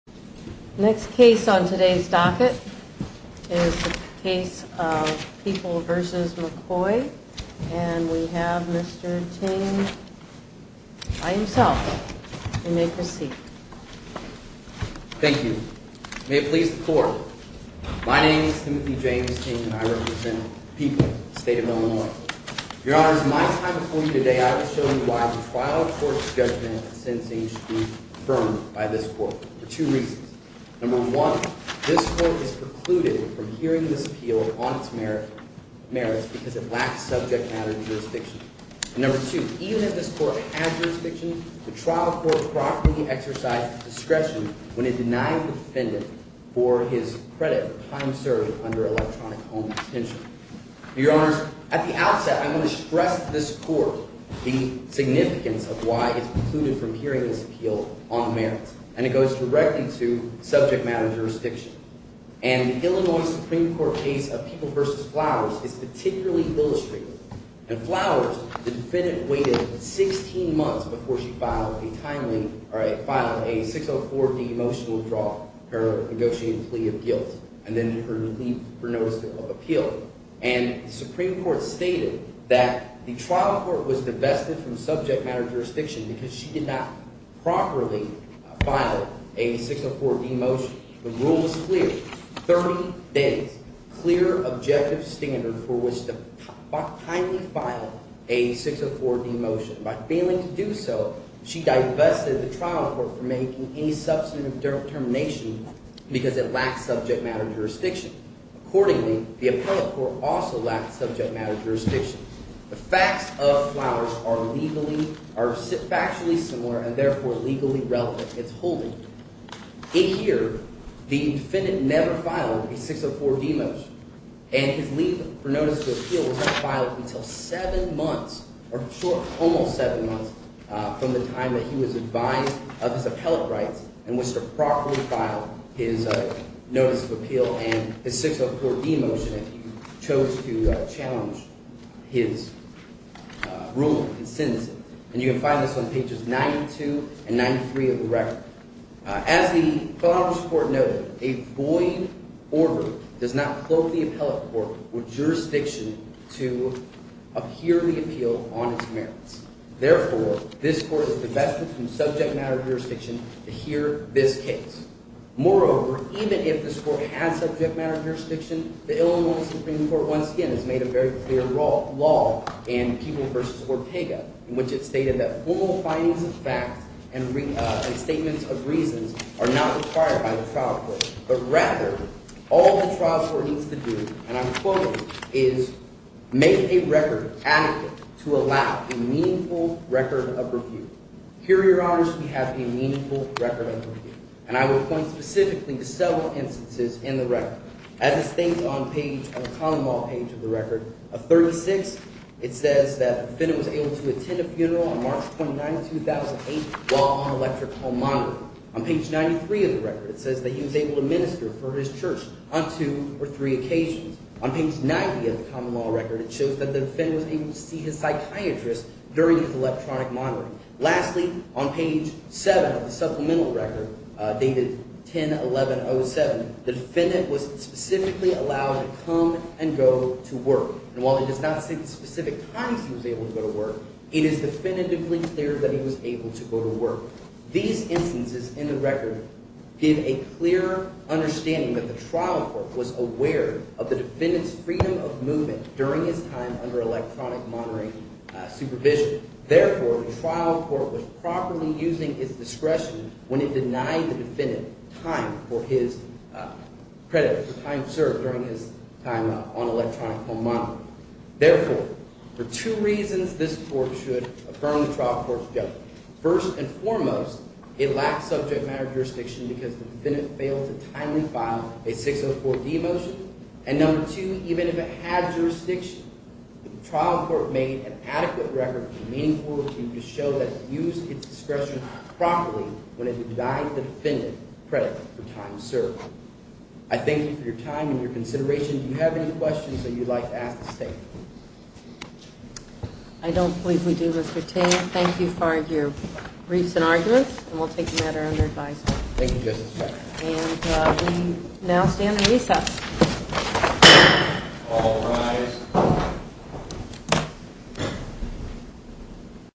Next case on today's docket is the case of People v. McCoy, and we have Mr. Ting by himself. You may proceed. Thank you. May it please the Court, my name is Timothy James Ting, and I represent People, the state of Illinois. Your Honors, in my time before you today, I will show you why the trial court's judgment of sentencing should be affirmed by this Court for two reasons. Number one, this Court is precluded from hearing this appeal on its merits because it lacks subject matter jurisdiction. And number two, even if this Court had jurisdiction, the trial court properly exercised discretion when it denied the defendant for his credit of time served under electronic home detention. Your Honors, at the outset, I'm going to stress to this Court the significance of why it's precluded from hearing this appeal on the merits, and it goes directly to subject matter jurisdiction. And the Illinois Supreme Court case of People v. Flowers is particularly illustrative. In Flowers, the defendant waited 16 months before she filed a timely – or filed a 604-D motion to withdraw her negotiated plea of guilt and then her notice of appeal. And the Supreme Court stated that the trial court was divested from subject matter jurisdiction because she did not properly file a 604-D motion. The rule was clear, 30 days, clear objective standard for which to timely file a 604-D motion. By failing to do so, she divested the trial court from making any substantive determination because it lacked subject matter jurisdiction. Accordingly, the appellate court also lacked subject matter jurisdiction. The facts of Flowers are legally – are factually similar and therefore legally relevant. In here, the defendant never filed a 604-D motion, and his leave for notice of appeal was not filed until seven months, or almost seven months, from the time that he was advised of his appellate rights and was to properly file his notice of appeal and his 604-D motion if he chose to challenge his ruling, his sentencing. And you can find this on pages 92 and 93 of the record. As the Flowers court noted, a void order does not cloak the appellate court or jurisdiction to uphear the appeal on its merits. Therefore, this court is divested from subject matter jurisdiction to hear this case. Moreover, even if this court had subject matter jurisdiction, the Illinois Supreme Court once again has made a very clear law in People v. Ortega in which it stated that formal findings of facts and statements of reasons are not required by the trial court. But rather, all the trial court needs to do, and I'm quoting, is make a record adequate to allow a meaningful record of review. Here, Your Honors, we have a meaningful record of review. And I will point specifically to several instances in the record. As is stated on the common law page of the record, of 36, it says that the defendant was able to attend a funeral on March 29, 2008 while on electric home monitoring. On page 93 of the record, it says that he was able to minister for his church on two or three occasions. On page 90 of the common law record, it shows that the defendant was able to see his psychiatrist during his electronic monitoring. Lastly, on page 7 of the supplemental record, dated 10-11-07, the defendant was specifically allowed to come and go to work. And while it does not say the specific times he was able to go to work, it is definitively clear that he was able to go to work. These instances in the record give a clearer understanding that the trial court was aware of the defendant's freedom of movement during his time under electronic monitoring supervision. Therefore, the trial court was properly using its discretion when it denied the defendant time for his credit, time served during his time on electronic home monitoring. Therefore, for two reasons, this court should affirm the trial court's judgment. First and foremost, it lacks subject matter jurisdiction because the defendant failed to timely file a 604-D motion. And number two, even if it had jurisdiction, the trial court made an adequate record to show that it used its discretion properly when it denied the defendant credit for time served. I thank you for your time and your consideration. Do you have any questions that you would like to ask the State? I don't believe we do, Mr. Ting. Thank you for your briefs and arguments, and we'll take them at our under advisement. Thank you, Justice. And we now stand at recess. All rise.